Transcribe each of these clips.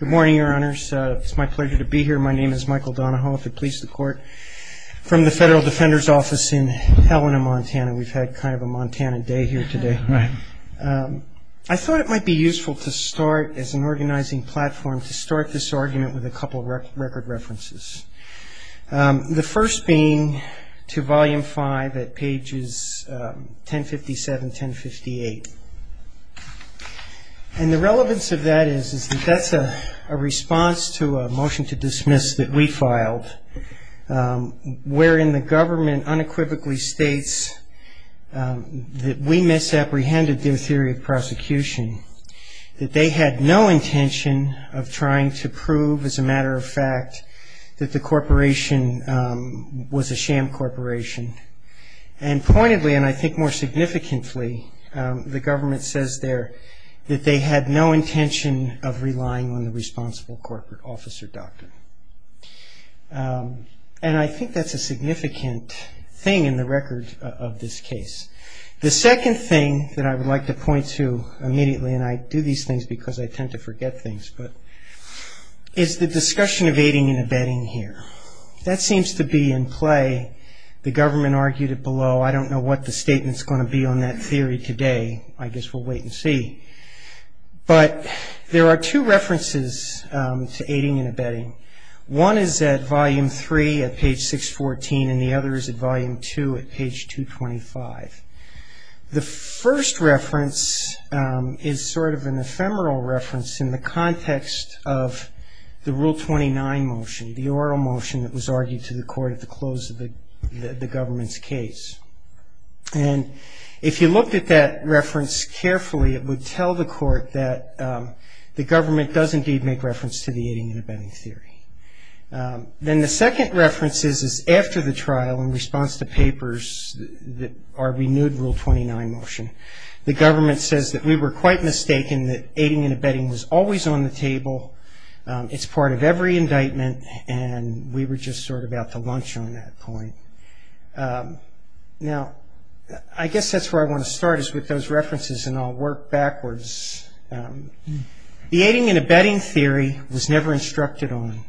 Good morning, your honors. It's my pleasure to be here. My name is Michael Donahoe, if it pleases the court, from the Federal Defender's Office in Helena, Montana. We've had kind of a Montana day here today. I thought it might be useful to start, as an organizing platform, to start this argument with a couple of record references. The first being to Volume 5 at pages 1057, 1058. And the relevance of that is that that's a response to a motion to dismiss that we filed, wherein the government unequivocally states that we misapprehended their theory of prosecution, that they had no intention of trying to prove, as a matter of fact, that the corporation was a sham corporation. And pointedly, and I think more significantly, the government says there that they had no intention of relying on the responsible corporate officer doctrine. And I think that's a significant thing in the record of this case. The second thing that I would like to point to immediately, and I do these things because I tend to forget things, is the discussion of aiding and abetting here. That seems to be in play. The government argued it below. I don't know what the statement's going to be on that theory today. I guess we'll wait and see. But there are two references to aiding and abetting. One is at Volume 3 at page 614, and the other is at Volume 2 at page 225. The first reference is sort of an ephemeral reference in the context of the Rule 29 motion, the oral motion that was argued to the court at the close of the government's case. And if you looked at that reference carefully, it would tell the court that the government does indeed make reference to the aiding and abetting theory. Then the second reference is after the trial in response to papers that are renewed Rule 29 motion. The government says that we were quite mistaken, that aiding and abetting was always on the table. It's part of every indictment, and we were just sort of out to lunch on that point. Now, I guess that's where I want to start is with those references, and I'll work backwards. The aiding and abetting theory was never instructed on.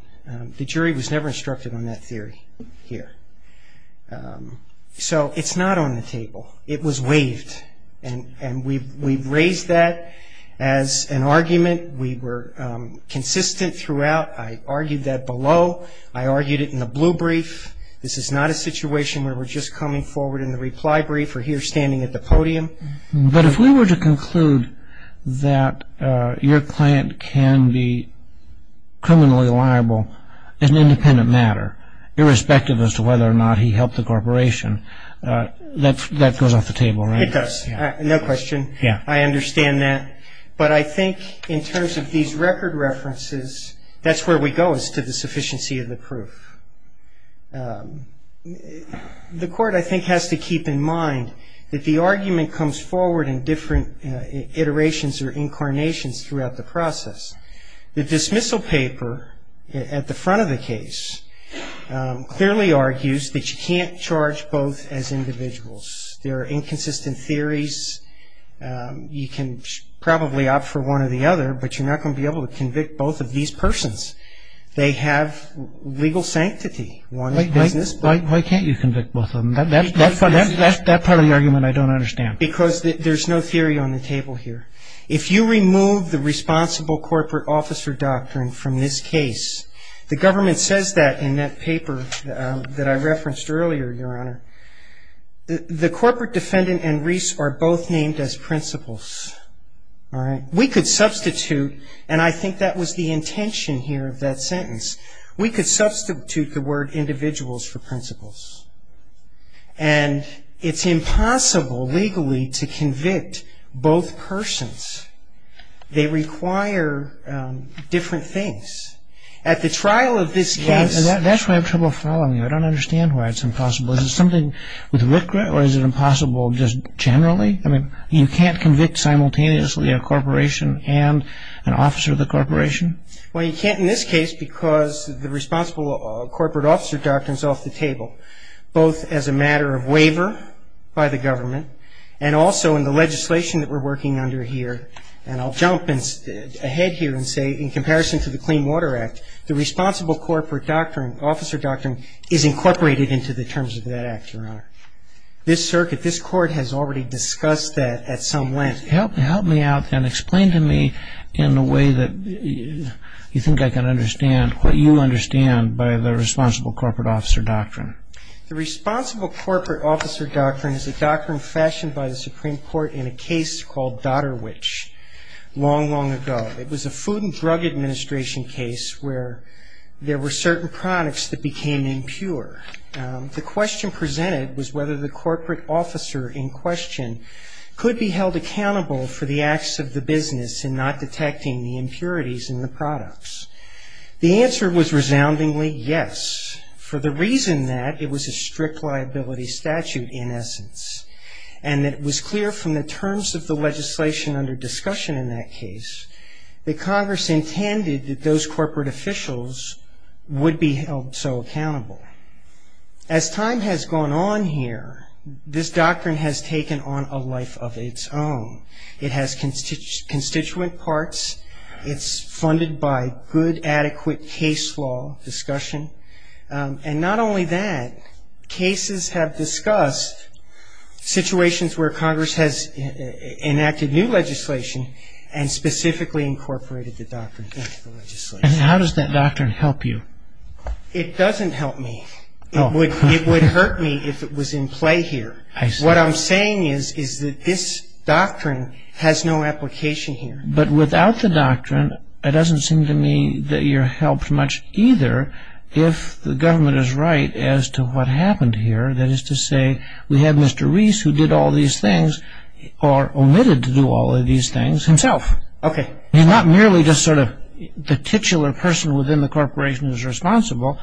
The jury was never instructed on that theory here. So it's not on the table. It was waived, and we've raised that as an argument. We were consistent throughout. I argued that below. I argued it in the blue brief. This is not a situation where we're just coming forward in the reply brief or here standing at the podium. But if we were to conclude that your client can be criminally liable in an independent matter, irrespective as to whether or not he helped the corporation, that goes off the table, right? It does. No question. I understand that. But I think in terms of these record references, that's where we go is to the sufficiency of the proof. The court, I think, has to keep in mind that the argument comes forward in different iterations or incarnations throughout the process. The dismissal paper at the front of the case clearly argues that you can't charge both as individuals. There are inconsistent theories. You can probably opt for one or the other, but you're not going to be able to convict both of these persons. They have legal sanctity. Why can't you convict both of them? That's part of the argument I don't understand. Because there's no theory on the table here. If you remove the responsible corporate officer doctrine from this case, the government says that in that paper that I referenced earlier, Your Honor. We could substitute, and I think that was the intention here of that sentence. We could substitute the word individuals for principles. And it's impossible legally to convict both persons. They require different things. At the trial of this case... That's why I have trouble following you. I don't understand why it's impossible. Is it something with RCRA or is it impossible just generally? I mean, you can't convict simultaneously a corporation and an officer of the corporation? Well, you can't in this case because the responsible corporate officer doctrine is off the table, both as a matter of waiver by the government and also in the legislation that we're working under here. And I'll jump ahead here and say in comparison to the Clean Water Act, the responsible corporate doctrine, officer doctrine, is incorporated into the terms of that act, Your Honor. This circuit, this court has already discussed that at some length. Help me out then. Explain to me in a way that you think I can understand what you understand by the responsible corporate officer doctrine. The responsible corporate officer doctrine is a doctrine fashioned by the Supreme Court in a case called Dotterwich long, long ago. It was a Food and Drug Administration case where there were certain products that became impure. The question presented was whether the corporate officer in question could be held accountable for the acts of the business and not detecting the impurities in the products. The answer was resoundingly yes, for the reason that it was a strict liability statute in essence and that it was clear from the terms of the legislation under discussion in that case that Congress intended that those corporate officials would be held so accountable. As time has gone on here, this doctrine has taken on a life of its own. It has constituent parts. It's funded by good, adequate case law discussion. And not only that, cases have discussed situations where Congress has enacted new legislation and specifically incorporated the doctrine into the legislation. And how does that doctrine help you? It doesn't help me. It would hurt me if it was in play here. What I'm saying is that this doctrine has no application here. But without the doctrine, it doesn't seem to me that you're helped much either if the government is right as to what happened here, that is to say, we have Mr. Reese who did all these things or omitted to do all of these things himself. Okay. And not merely just sort of the titular person within the corporation is responsible.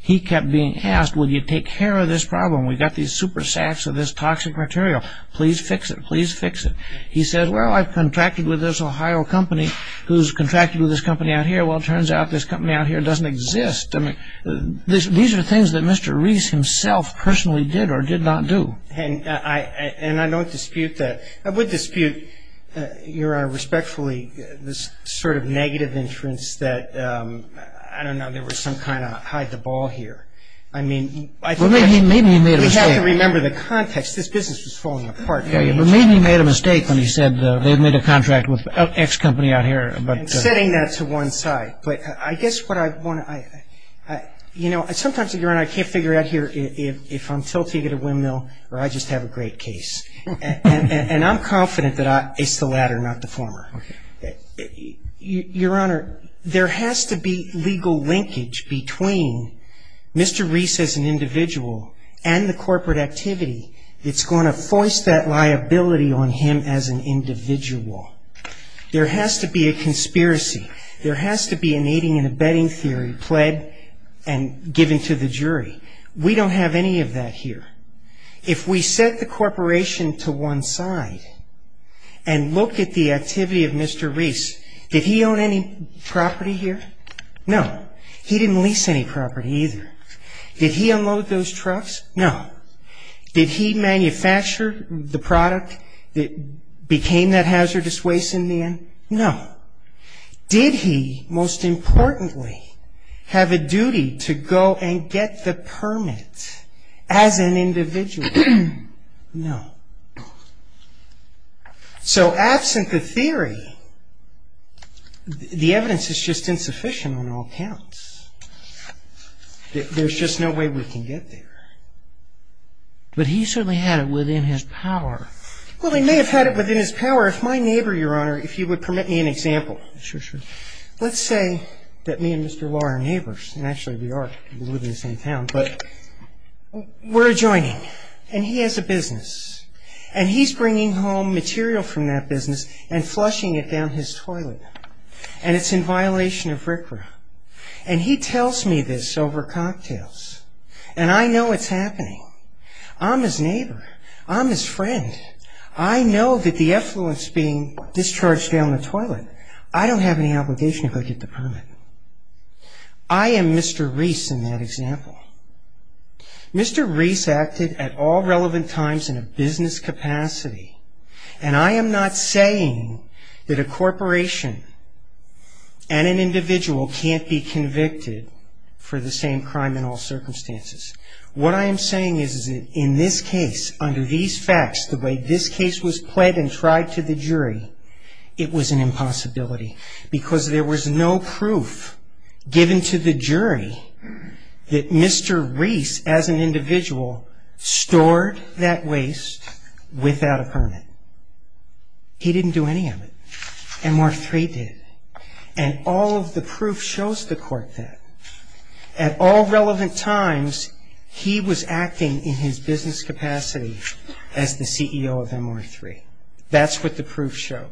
He kept being asked, will you take care of this problem? We've got these super sacks of this toxic material. Please fix it. Please fix it. He said, well, I've contracted with this Ohio company who's contracted with this company out here. Well, it turns out this company out here doesn't exist. These are things that Mr. Reese himself personally did or did not do. And I don't dispute that. I would dispute, Your Honor, respectfully, this sort of negative inference that, I don't know, there was some kind of hide the ball here. I mean, I think we have to remember the context. This business was falling apart. Maybe he made a mistake when he said they made a contract with X company out here. I'm setting that to one side. But I guess what I want to, you know, sometimes, Your Honor, I can't figure out here if I'm tilting at a windmill or I just have a great case. And I'm confident that it's the latter, not the former. Okay. Your Honor, there has to be legal linkage between Mr. Reese as an individual and the corporate activity. It's going to force that liability on him as an individual. There has to be a conspiracy. There has to be an aiding and abetting theory pled and given to the jury. We don't have any of that here. If we set the corporation to one side and look at the activity of Mr. Reese, did he own any property here? No. He didn't lease any property either. Did he unload those trucks? No. Did he manufacture the product that became that hazardous waste in the end? No. Did he, most importantly, have a duty to go and get the permit as an individual? No. So absent the theory, the evidence is just insufficient on all counts. There's just no way we can get there. But he certainly had it within his power. Well, he may have had it within his power. If my neighbor, Your Honor, if you would permit me an example. Sure, sure. Let's say that me and Mr. Law are neighbors. And actually we are. We live in the same town. But we're adjoining. And he has a business. And he's bringing home material from that business and flushing it down his toilet. And it's in violation of RCRA. And he tells me this over cocktails. And I know it's happening. I'm his neighbor. I'm his friend. I know that the effluence being discharged down the toilet, I don't have any obligation to go get the permit. I am Mr. Reese in that example. Mr. Reese acted at all relevant times in a business capacity. And I am not saying that a corporation and an individual can't be convicted for the same crime in all circumstances. What I am saying is that in this case, under these facts, the way this case was pled and tried to the jury, it was an impossibility. Because there was no proof given to the jury that Mr. Reese as an individual stored that waste without a permit. He didn't do any of it. MR3 did. And all of the proof shows the court that. At all relevant times, he was acting in his business capacity as the CEO of MR3. That's what the proof showed.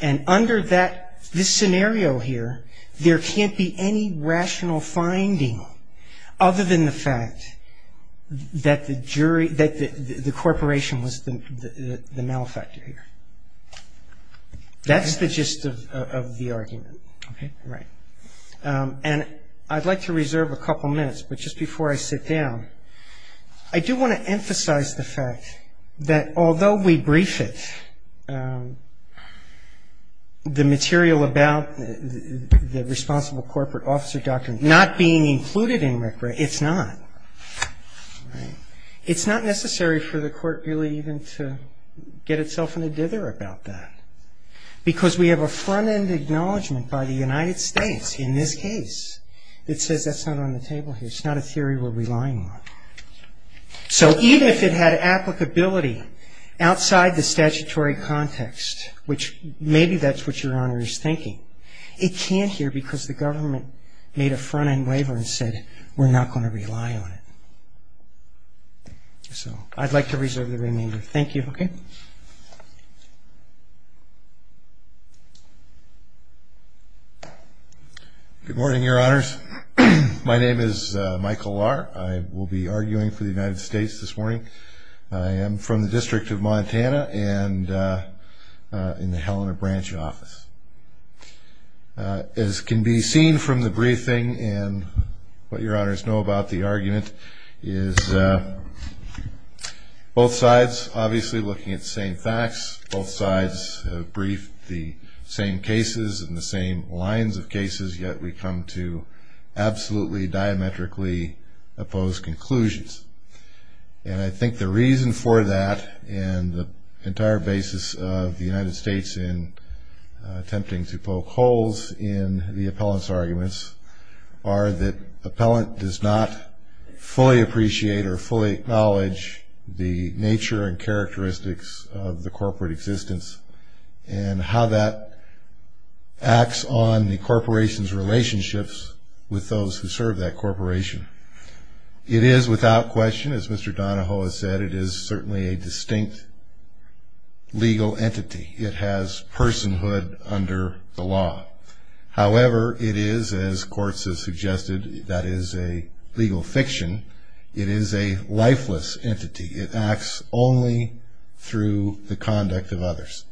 And under this scenario here, there can't be any rational finding other than the fact that the corporation was the malefactor here. That's the gist of the argument. Okay. Right. And I'd like to reserve a couple minutes. But just before I sit down, I do want to emphasize the fact that although we briefed the material about the responsible corporate officer doctrine not being included in RCRA, it's not. It's not necessary for the court really even to get itself in a dither about that. Because we have a front-end acknowledgment by the United States in this case that says that's not on the table here. It's not a theory we're relying on. So even if it had applicability outside the statutory context, which maybe that's what Your Honor is thinking, it can't here because the government made a front-end waiver and said, we're not going to rely on it. So I'd like to reserve the remainder. Thank you. Okay. Good morning, Your Honors. My name is Michael Lahr. I will be arguing for the United States this morning. I am from the District of Montana and in the Helena Branch office. As can be seen from the briefing and what Your Honors know about the argument is both sides obviously looking at the same facts. Both sides have briefed the same cases and the same lines of cases, yet we come to absolutely diametrically opposed conclusions. And I think the reason for that and the entire basis of the United States in attempting to poke holes in the appellant's arguments are that the appellant does not fully appreciate or fully acknowledge the nature and characteristics of the corporate system. And how that acts on the corporation's relationships with those who serve that corporation. It is without question, as Mr. Donahoe has said, it is certainly a distinct legal entity. It has personhood under the law. However, it is, as courts have suggested, that is a legal fiction. It is a lifeless entity. It acts only through the conduct of others.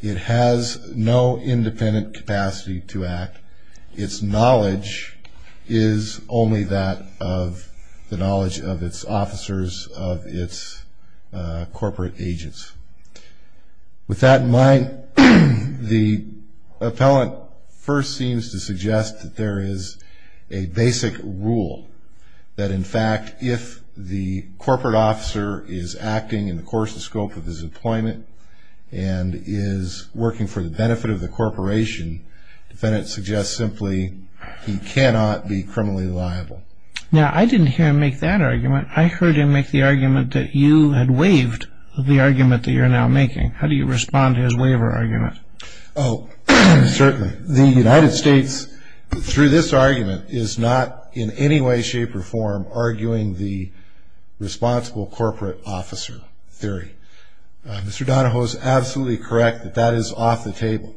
It has no independent capacity to act. Its knowledge is only that of the knowledge of its officers, of its corporate agents. With that in mind, the appellant first seems to suggest that there is a basic rule. That, in fact, if the corporate officer is acting in the course and scope of his employment and is working for the benefit of the corporation, the defendant suggests simply he cannot be criminally liable. Now, I didn't hear him make that argument. I heard him make the argument that you had waived the argument that you're now making. How do you respond to his waiver argument? Oh, certainly. The United States, through this argument, is not in any way, shape, or form arguing the responsible corporate officer theory. Mr. Donahoe is absolutely correct that that is off the table.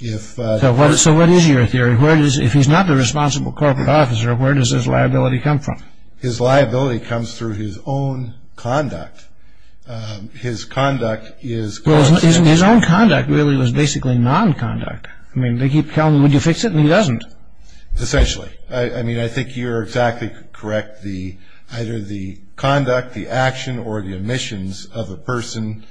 So what is your theory? If he's not the responsible corporate officer, where does his liability come from? His liability comes through his own conduct. His own conduct really was basically non-conduct. I mean, they keep telling him, would you fix it? And he doesn't. Essentially. I mean, I think you're exactly correct. Either the conduct, the action, or the omissions of a person,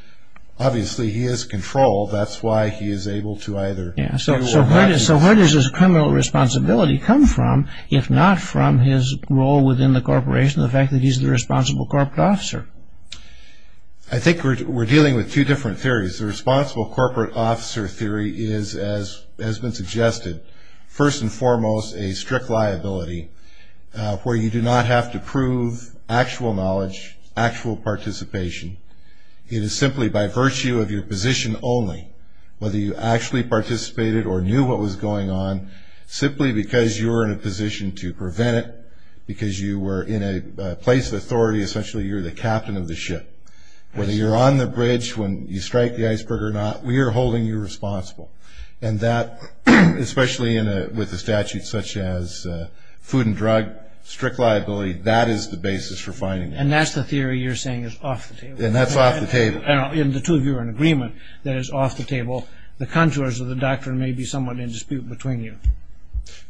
obviously he has control. That's why he is able to either do or not do. So where does his criminal responsibility come from, if not from his role within the corporation, or the fact that he's the responsible corporate officer? I think we're dealing with two different theories. The responsible corporate officer theory is, as has been suggested, first and foremost a strict liability where you do not have to prove actual knowledge, actual participation. It is simply by virtue of your position only, whether you actually participated or knew what was going on, simply because you were in a position to prevent it, because you were in a place of authority. Essentially, you're the captain of the ship. Whether you're on the bridge, whether you strike the iceberg or not, we are holding you responsible. And that, especially with a statute such as food and drug, strict liability, that is the basis for finding it. And that's the theory you're saying is off the table. And that's off the table. And the two of you are in agreement that it's off the table. The contours of the doctrine may be somewhat in dispute between you.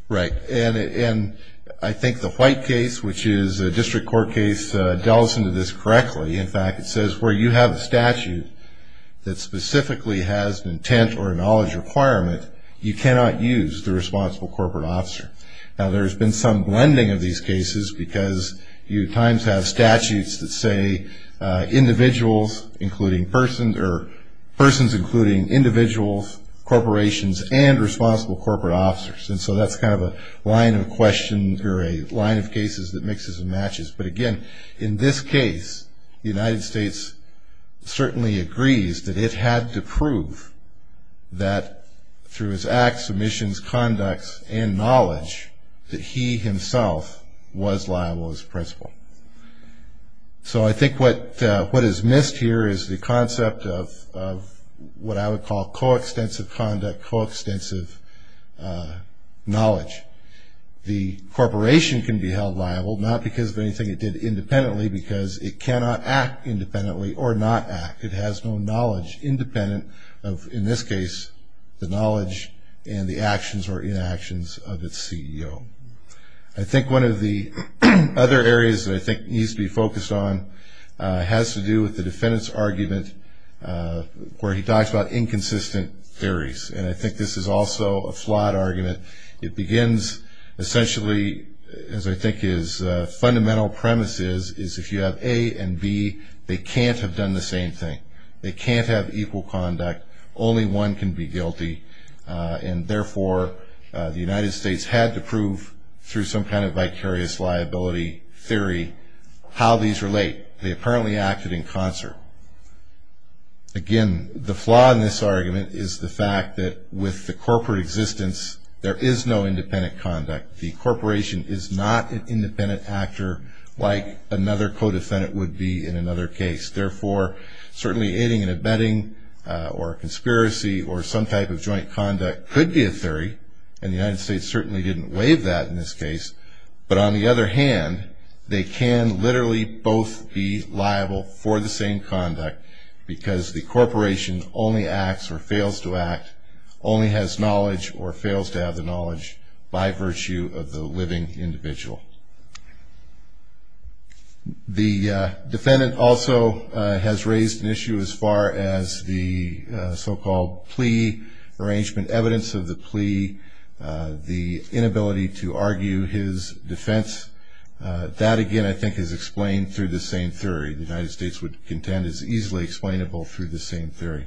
Right. And I think the White case, which is a district court case, delves into this correctly. In fact, it says where you have a statute that specifically has an intent or a knowledge requirement, you cannot use the responsible corporate officer. Now, there's been some blending of these cases because you at times have statutes that say individuals, including persons, or persons including individuals, corporations, and responsible corporate officers. And so that's kind of a line of questions or a line of cases that mixes and matches. But, again, in this case, the United States certainly agrees that it had to prove that, through his acts, submissions, conducts, and knowledge, that he himself was liable as principal. So I think what is missed here is the concept of what I would call coextensive conduct, coextensive knowledge. The corporation can be held liable, not because of anything it did independently, because it cannot act independently or not act. It has no knowledge independent of, in this case, the knowledge and the actions or inactions of its CEO. I think one of the other areas that I think needs to be focused on has to do with the defendant's argument where he talks about inconsistent theories. And I think this is also a flawed argument. It begins, essentially, as I think his fundamental premise is, is if you have A and B, they can't have done the same thing. They can't have equal conduct. Only one can be guilty. And, therefore, the United States had to prove, through some kind of vicarious liability theory, how these relate. They apparently acted in concert. Again, the flaw in this argument is the fact that, with the corporate existence, there is no independent conduct. The corporation is not an independent actor like another co-defendant would be in another case. Therefore, certainly aiding and abetting or a conspiracy or some type of joint conduct could be a theory, and the United States certainly didn't waive that in this case. But, on the other hand, they can literally both be liable for the same conduct because the corporation only acts or fails to act, only has knowledge or fails to have the knowledge, by virtue of the living individual. The defendant also has raised an issue as far as the so-called plea arrangement, evidence of the plea, the inability to argue his defense. That, again, I think is explained through the same theory. The United States would contend is easily explainable through the same theory.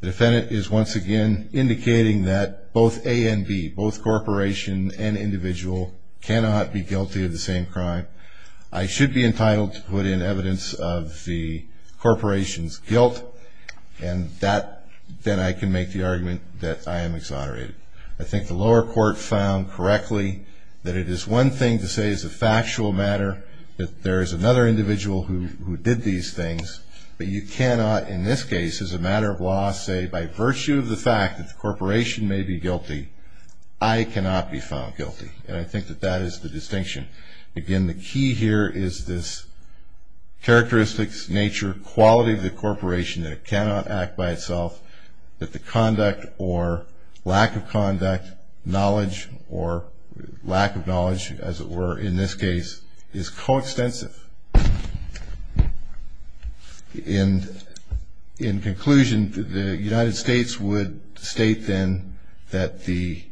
The defendant is once again indicating that both A and B, both corporation and individual, cannot be guilty of the same crime. I should be entitled to put in evidence of the corporation's guilt, and then I can make the argument that I am exonerated. I think the lower court found correctly that it is one thing to say it's a factual matter, that there is another individual who did these things. But you cannot, in this case, as a matter of law, say, by virtue of the fact that the corporation may be guilty, I cannot be found guilty. And I think that that is the distinction. Again, the key here is this characteristics, nature, quality of the corporation, that it cannot act by itself, that the conduct or lack of conduct, knowledge, or lack of knowledge, as it were, in this case, is coextensive. In conclusion, the United States would state then that the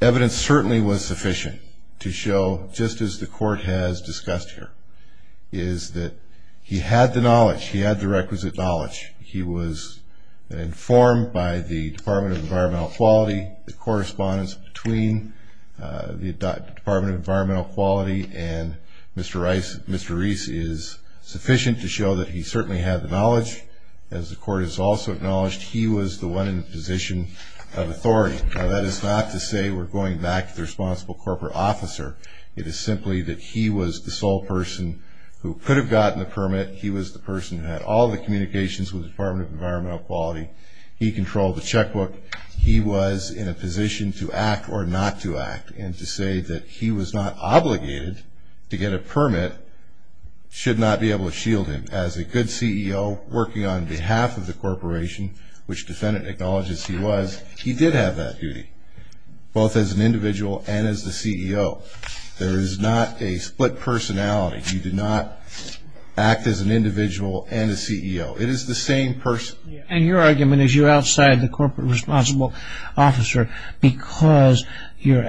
evidence certainly was sufficient to show, just as the court has discussed here, is that he had the knowledge. He had the requisite knowledge. He was informed by the Department of Environmental Quality. The correspondence between the Department of Environmental Quality and Mr. Rice, Mr. Reese, is sufficient to show that he certainly had the knowledge. As the court has also acknowledged, he was the one in the position of authority. That is not to say we're going back to the responsible corporate officer. It is simply that he was the sole person who could have gotten the permit. He was the person who had all the communications with the Department of Environmental Quality. He controlled the checkbook. He was in a position to act or not to act. And to say that he was not obligated to get a permit should not be able to shield him. As a good CEO working on behalf of the corporation, which defendant acknowledges he was, he did have that duty, both as an individual and as the CEO. There is not a split personality. He did not act as an individual and a CEO. It is the same person. And your argument is you're outside the corporate responsible officer because you're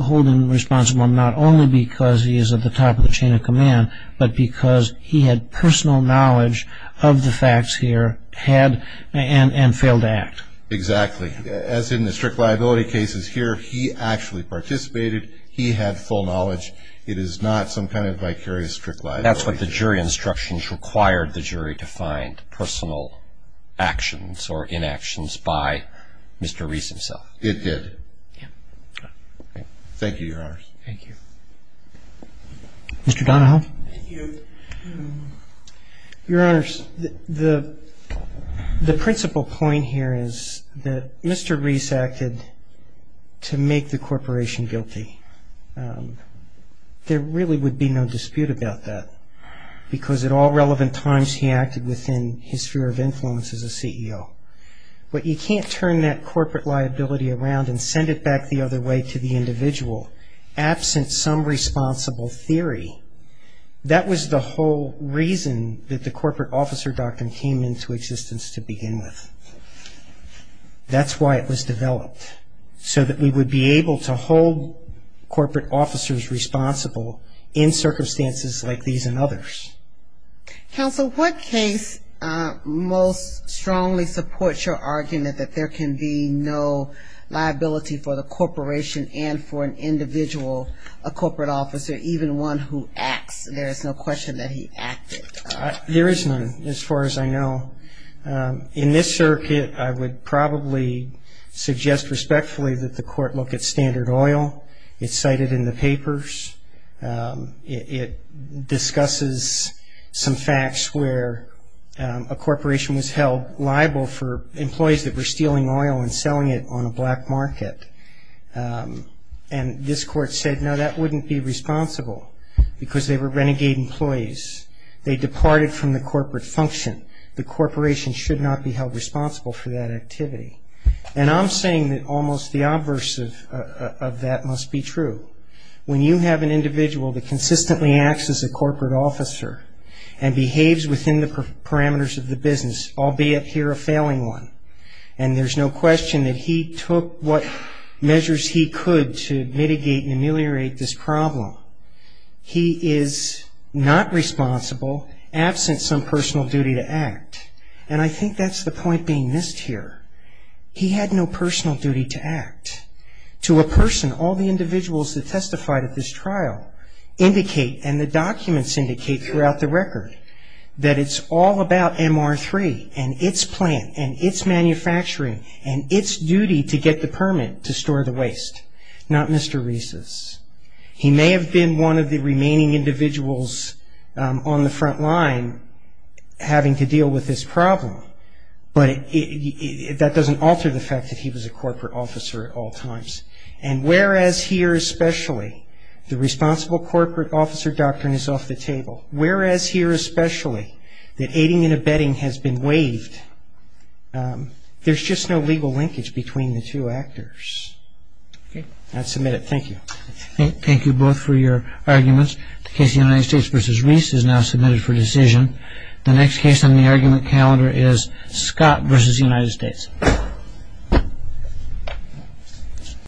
holding him responsible not only because he is at the top of the chain of command, but because he had personal knowledge of the facts here and failed to act. Exactly. As in the strict liability cases here, he actually participated. He had full knowledge. It is not some kind of vicarious strict liability. That's what the jury instructions required the jury to find, personal actions or inactions by Mr. Reese himself. It did. Yeah. Thank you, Your Honors. Thank you. Mr. Donahoe. Thank you. Your Honors, the principal point here is that Mr. Reese acted to make the corporation guilty. There really would be no dispute about that because at all relevant times he acted within his sphere of influence as a CEO. But you can't turn that corporate liability around and send it back the other way to the individual absent some responsible theory. That was the whole reason that the Corporate Officer Doctrine came into existence to begin with. That's why it was developed, so that we would be able to hold corporate officers responsible in circumstances like these and others. Counsel, what case most strongly supports your argument that there can be no liability for the corporation and for an individual, a corporate officer, even one who acts? There is no question that he acted. There is none as far as I know. In this circuit, I would probably suggest respectfully that the court look at Standard Oil. It's cited in the papers. It discusses some facts where a corporation was held liable for employees that were stealing oil and selling it on a black market. And this court said, no, that wouldn't be responsible because they were renegade employees. They departed from the corporate function. The corporation should not be held responsible for that activity. And I'm saying that almost the obverse of that must be true. When you have an individual that consistently acts as a corporate officer and behaves within the parameters of the business, albeit here a failing one, and there's no question that he took what measures he could to mitigate and ameliorate this problem, he is not responsible absent some personal duty to act. And I think that's the point being missed here. He had no personal duty to act. To a person, all the individuals that testified at this trial indicate and the documents indicate throughout the record that it's all about MR3 and its plant and its manufacturing and its duty to get the permit to store the waste, not Mr. Reese's. He may have been one of the remaining individuals on the front line having to deal with this problem, but that doesn't alter the fact that he was a corporate officer at all times. And whereas here especially the responsible corporate officer doctrine is off the table, whereas here especially that aiding and abetting has been waived, there's just no legal linkage between the two actors. Okay, I'll submit it. Thank you. Thank you both for your arguments. The case of the United States v. Reese is now submitted for decision. The next case on the argument calendar is Scott v. United States.